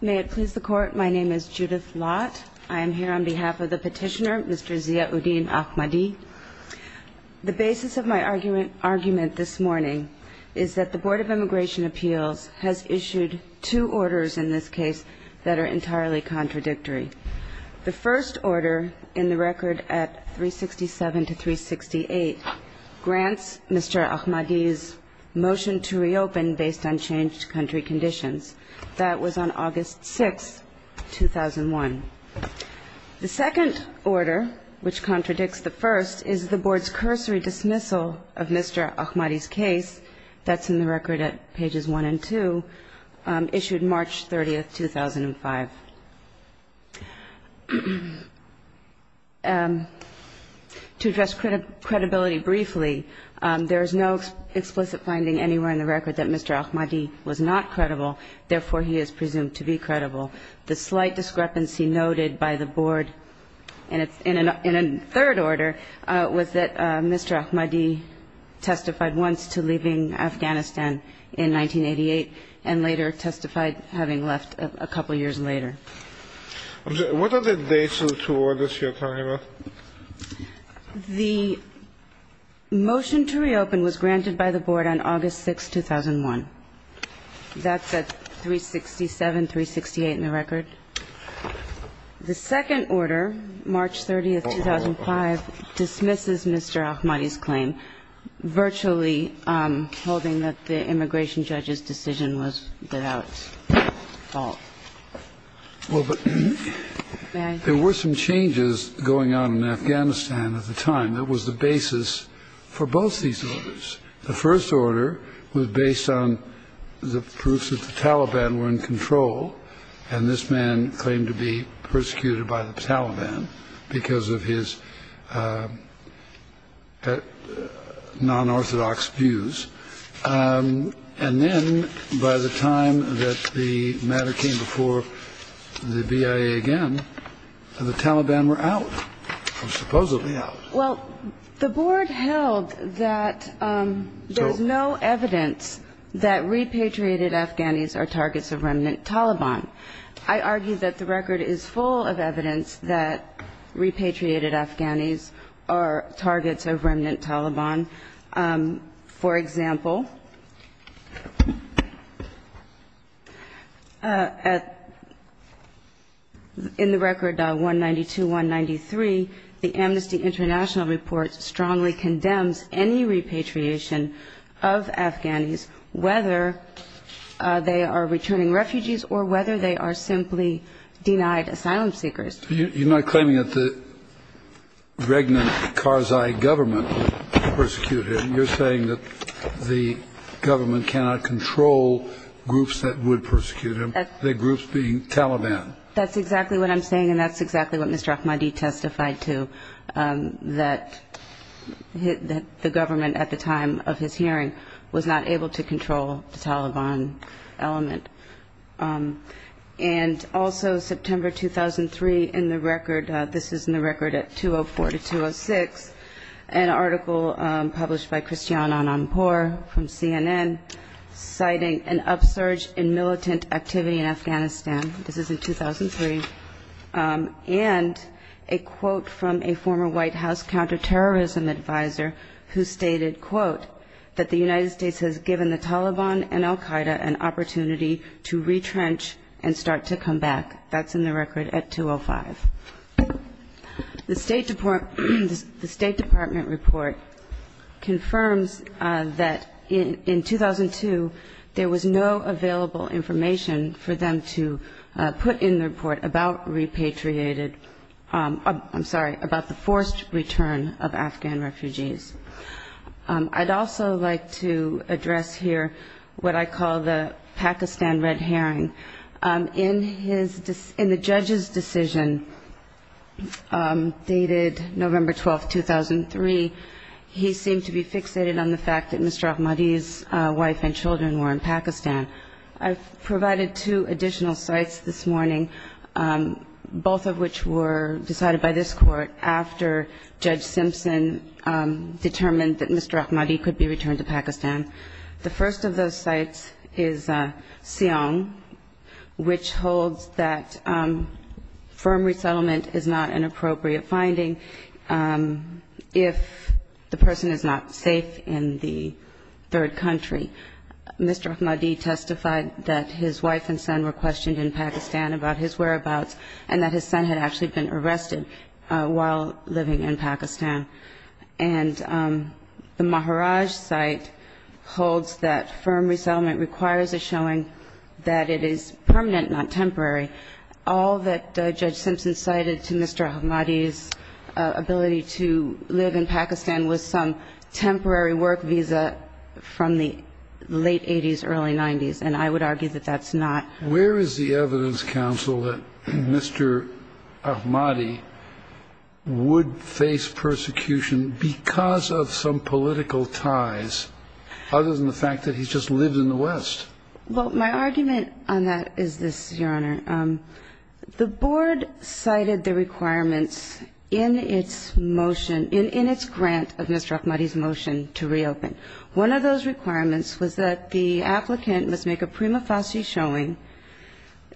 May it please the Court, my name is Judith Lott. I am here on behalf of the petitioner, Mr. Zia-Uddin Ahmadi. The basis of my argument this morning is that the Board of Immigration Appeals has issued two orders in this case that are entirely contradictory. The first order in the record at 367-368 grants Mr. Ahmadi's motion to reopen based on changed country conditions. That was on August 6, 2001. The second order, which contradicts the first, is the Board's cursory dismissal of Mr. Ahmadi's case. That's in the record at pages 1 and 2, issued March 30, 2005. To address credibility briefly, there is no explicit finding anywhere in the record that Mr. Ahmadi was not credible, therefore he is presumed to be credible. The slight discrepancy noted by the Board in a third order was that Mr. Ahmadi testified once to leaving Afghanistan in 1988 and later testified having left a couple years later. What are the dates of the two orders you are talking about? The motion to reopen was granted by the Board on August 6, 2001. That's at 367-368 in the record. The second order, March 30, 2005, dismisses Mr. Ahmadi's claim, virtually holding that the immigration judge's decision was without fault. Well, there were some changes going on in Afghanistan at the time. That was the basis for both these orders. The first order was based on the proofs that the Taliban were in control, and this man claimed to be persecuted by the Taliban because of his non-orthodox views. And then, by the time that the matter came before the BIA again, the Taliban were out, supposedly out. Well, the Board held that there's no evidence that repatriated Afghanis are targets of remnant Taliban. I argue that the record is full of evidence that repatriated Afghanis are targets of remnant Taliban. For example, in the record 192-193, the Amnesty International report strongly condemns any repatriation of Afghanis, whether they are returning refugees or whether they are simply denied asylum seekers. You're not claiming that the regnant Karzai government persecuted him. You're saying that the government cannot control groups that would persecute him, the groups being Taliban. That's exactly what I'm saying, and that's exactly what Mr. Ahmadi testified to, that the government at the time of his hearing was not able to control the Taliban element. And also, September 2003, in the record, this is in the record at 204-206, an article published by Christiane Ananpour from CNN, citing an upsurge in militant activity in Afghanistan, this is in 2003, and a quote from a former White House counterterrorism advisor who stated, quote, that the United States has given the Taliban and al Qaeda an opportunity to retrench and start to come back. That's in the record at 205. The State Department report confirms that in 2002 there was no available information for them to put in the report about repatriated – I'm sorry, about the forced return of Afghan refugees. I'd also like to address here what I call the Pakistan red herring. In his – in the judge's decision dated November 12, 2003, he seemed to be fixated on the fact that Mr. Ahmadi's wife and children were in Pakistan. I've provided two additional sites this morning, both of which were decided by this court after Judge Simpson determined that Mr. Ahmadi could be returned to Pakistan. The first of those sites is Siong, which holds that firm resettlement is not an appropriate finding if the person is not safe in the third country. Mr. Ahmadi testified that his wife and son were questioned in Pakistan about his whereabouts and that his son had actually been arrested while living in Pakistan. And the Maharaj site holds that firm resettlement requires a showing that it is permanent, not temporary. All that Judge Simpson cited to Mr. Ahmadi's ability to live in Pakistan was some temporary work visa from the late 80s, early 90s, and I would argue that that's not – Where is the evidence, counsel, that Mr. Ahmadi would face persecution because of some political ties, other than the fact that he just lived in the West? Well, my argument on that is this, Your Honor. The board cited the requirements in its motion – in its grant of Mr. Ahmadi's motion to reopen. One of those requirements was that the applicant must make a prima facie showing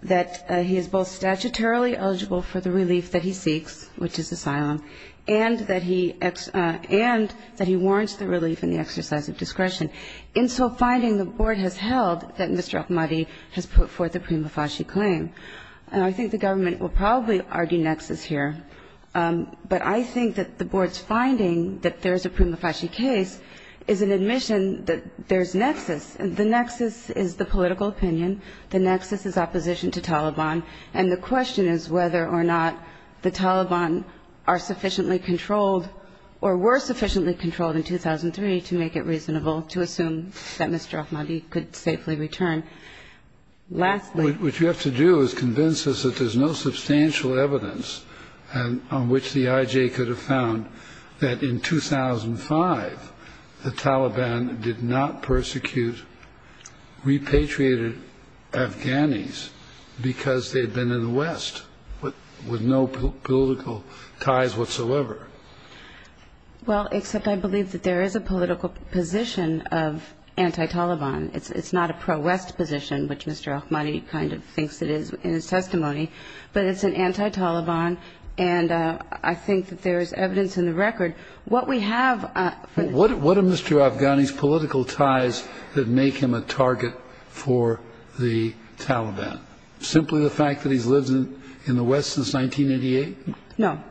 that he is both statutorily eligible for the relief that he seeks, which is asylum, and that he warrants the relief and the exercise of discretion. In so finding, the board has held that Mr. Ahmadi has put forth a prima facie claim. And I think the government will probably argue nexus here, But I think that the board's finding that there's a prima facie case is an admission that there's nexus. The nexus is the political opinion. The nexus is opposition to Taliban. And the question is whether or not the Taliban are sufficiently controlled or were sufficiently controlled in 2003 to make it reasonable to assume that Mr. Ahmadi could safely return. What you have to do is convince us that there's no substantial evidence on which the IJ could have found that in 2005 the Taliban did not persecute repatriated Afghanis because they'd been in the West with no political ties whatsoever. Well, except I believe that there is a political position of anti-Taliban. It's not a pro-West position, which Mr. Ahmadi kind of thinks it is in his testimony. But it's an anti-Taliban, and I think that there is evidence in the record. What we have for the What are Mr. Afghani's political ties that make him a target for the Taliban? Simply the fact that he's lived in the West since 1988? No,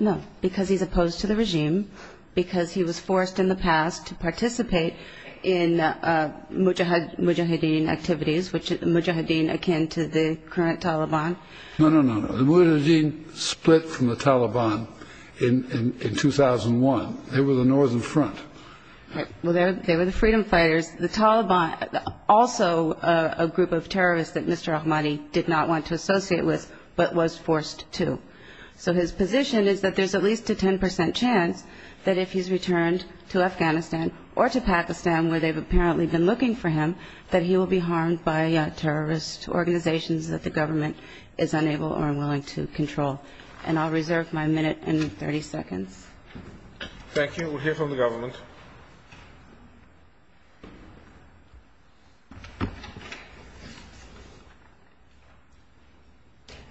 no, because he's opposed to the regime, because he was forced in the past to participate in Mujahideen activities, which are Mujahideen akin to the current Taliban. No, no, no. The Mujahideen split from the Taliban in 2001. They were the Northern Front. Well, they were the freedom fighters. The Taliban, also a group of terrorists that Mr. Ahmadi did not want to associate with, but was forced to. So his position is that there's at least a 10 percent chance that if he's returned to Afghanistan or to Pakistan, where they've apparently been looking for him, that he will be harmed by terrorist organizations that the government is unable or unwilling to control. And I'll reserve my minute and 30 seconds. Thank you. We'll hear from the government.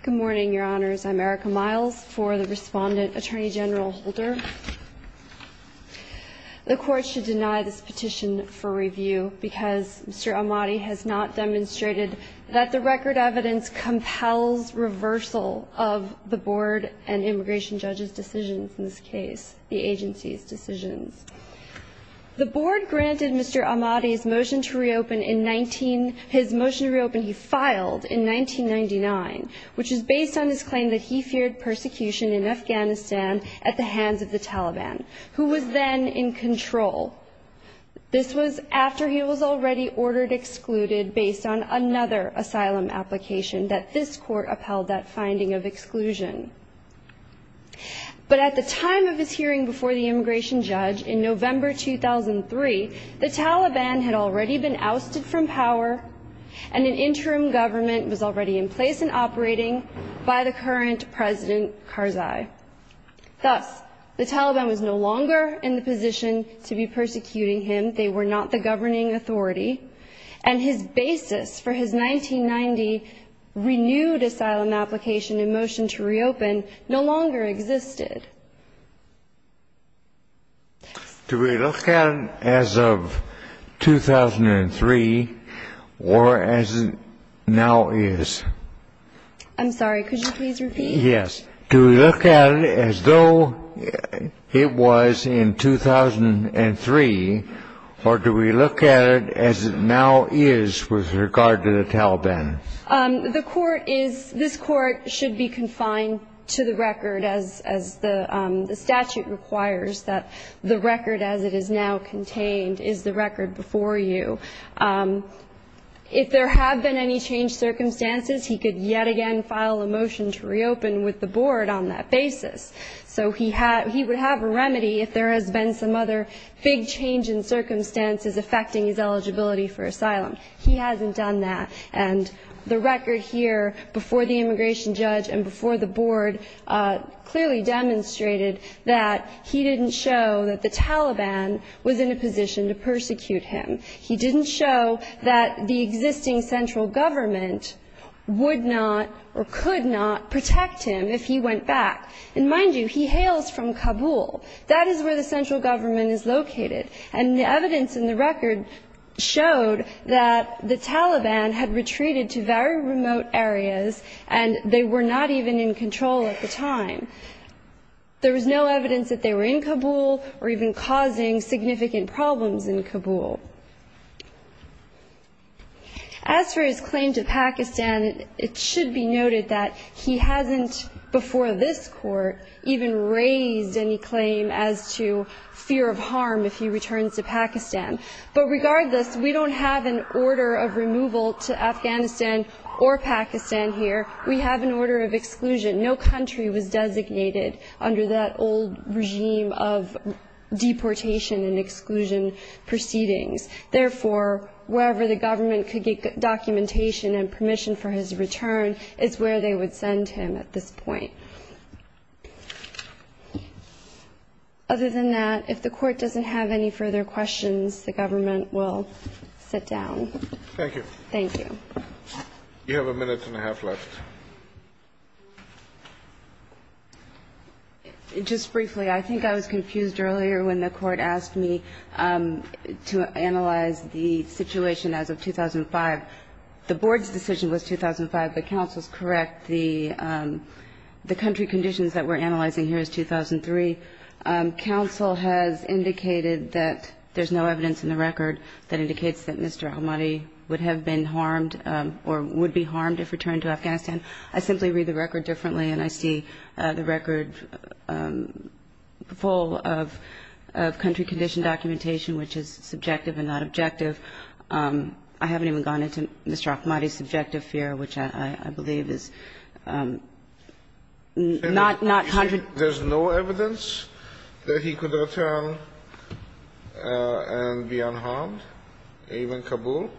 Good morning, Your Honors. I'm Erica Miles for the respondent, Attorney General Holder. The Court should deny this petition for review because Mr. Ahmadi has not demonstrated that the record evidence compels reversal of the Board and immigration judges' decisions in this case, the agency's decisions. The Board granted Mr. Ahmadi's motion to reopen in 19 he filed in 1999, which is based on his claim that he feared persecution in Afghanistan at the hands of the Taliban, who was then in control. This was after he was already ordered excluded based on another asylum application that this court upheld that finding of exclusion. But at the time of his hearing before the immigration judge in November 2003, the Taliban had already been ousted from power, and an interim government was already in place and operating by the current President Karzai. Thus, the Taliban was no longer in the position to be persecuting him. They were not the governing authority. And his basis for his 1990 renewed asylum application and motion to reopen no longer existed. Do we look at it as of 2003 or as it now is? I'm sorry. Could you please repeat? Yes. Do we look at it as though it was in 2003, or do we look at it as it now is with regard to the Taliban? The court is, this court should be confined to the record as the statute requires, that the record as it is now contained is the record before you. If there have been any changed circumstances, he could yet again file a motion to reopen with the board on that basis. So he would have a remedy if there has been some other big change in circumstances affecting his eligibility for asylum. He hasn't done that. And the record here before the immigration judge and before the board clearly demonstrated that he didn't show that the Taliban was in a position to persecute him. He didn't show that the existing central government would not or could not protect him if he went back. And mind you, he hails from Kabul. That is where the central government is located. And the evidence in the record showed that the Taliban had retreated to very remote areas and they were not even in control at the time. There was no evidence that they were in Kabul or even causing significant problems in Kabul. As for his claim to Pakistan, it should be noted that he hasn't, before this court, even raised any claim as to fear of harm if he returns to Pakistan. But regardless, we don't have an order of removal to Afghanistan or Pakistan here. We have an order of exclusion. No country was designated under that old regime of deportation and exclusion proceedings. Therefore, wherever the government could get documentation and permission for his return, it's where they would send him at this point. Other than that, if the court doesn't have any further questions, the government will sit down. Thank you. Thank you. You have a minute and a half left. Just briefly, I think I was confused earlier when the court asked me to analyze the situation as of 2005. The board's decision was 2005, but counsel's correct. The country conditions that we're analyzing here is 2003. Counsel has indicated that there's no evidence in the record that indicates that Mr. Ahmadi would have been harmed or would be harmed if returned to Afghanistan. I simply read the record differently, and I see the record full of country condition documentation, which is subjective and not objective. I haven't even gone into Mr. Ahmadi's subjective fear, which I believe is not 100. You're saying there's no evidence that he could return and be unharmed, even Kabul?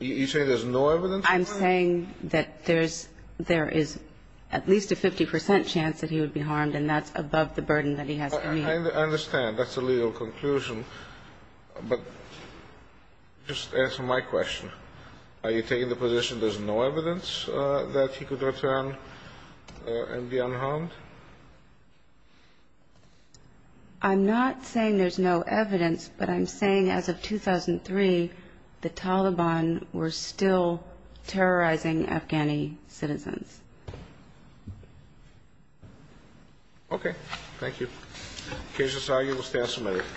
You're saying there's no evidence? I'm saying that there is at least a 50 percent chance that he would be harmed, and that's above the burden that he has to meet. I understand. That's a legal conclusion. But just answer my question. Are you taking the position there's no evidence that he could return and be unharmed? I'm not saying there's no evidence, but I'm saying as of 2003, the Taliban were still terrorizing Afghani citizens. Okay. Thank you. Case is argued. We'll stay on some other cases.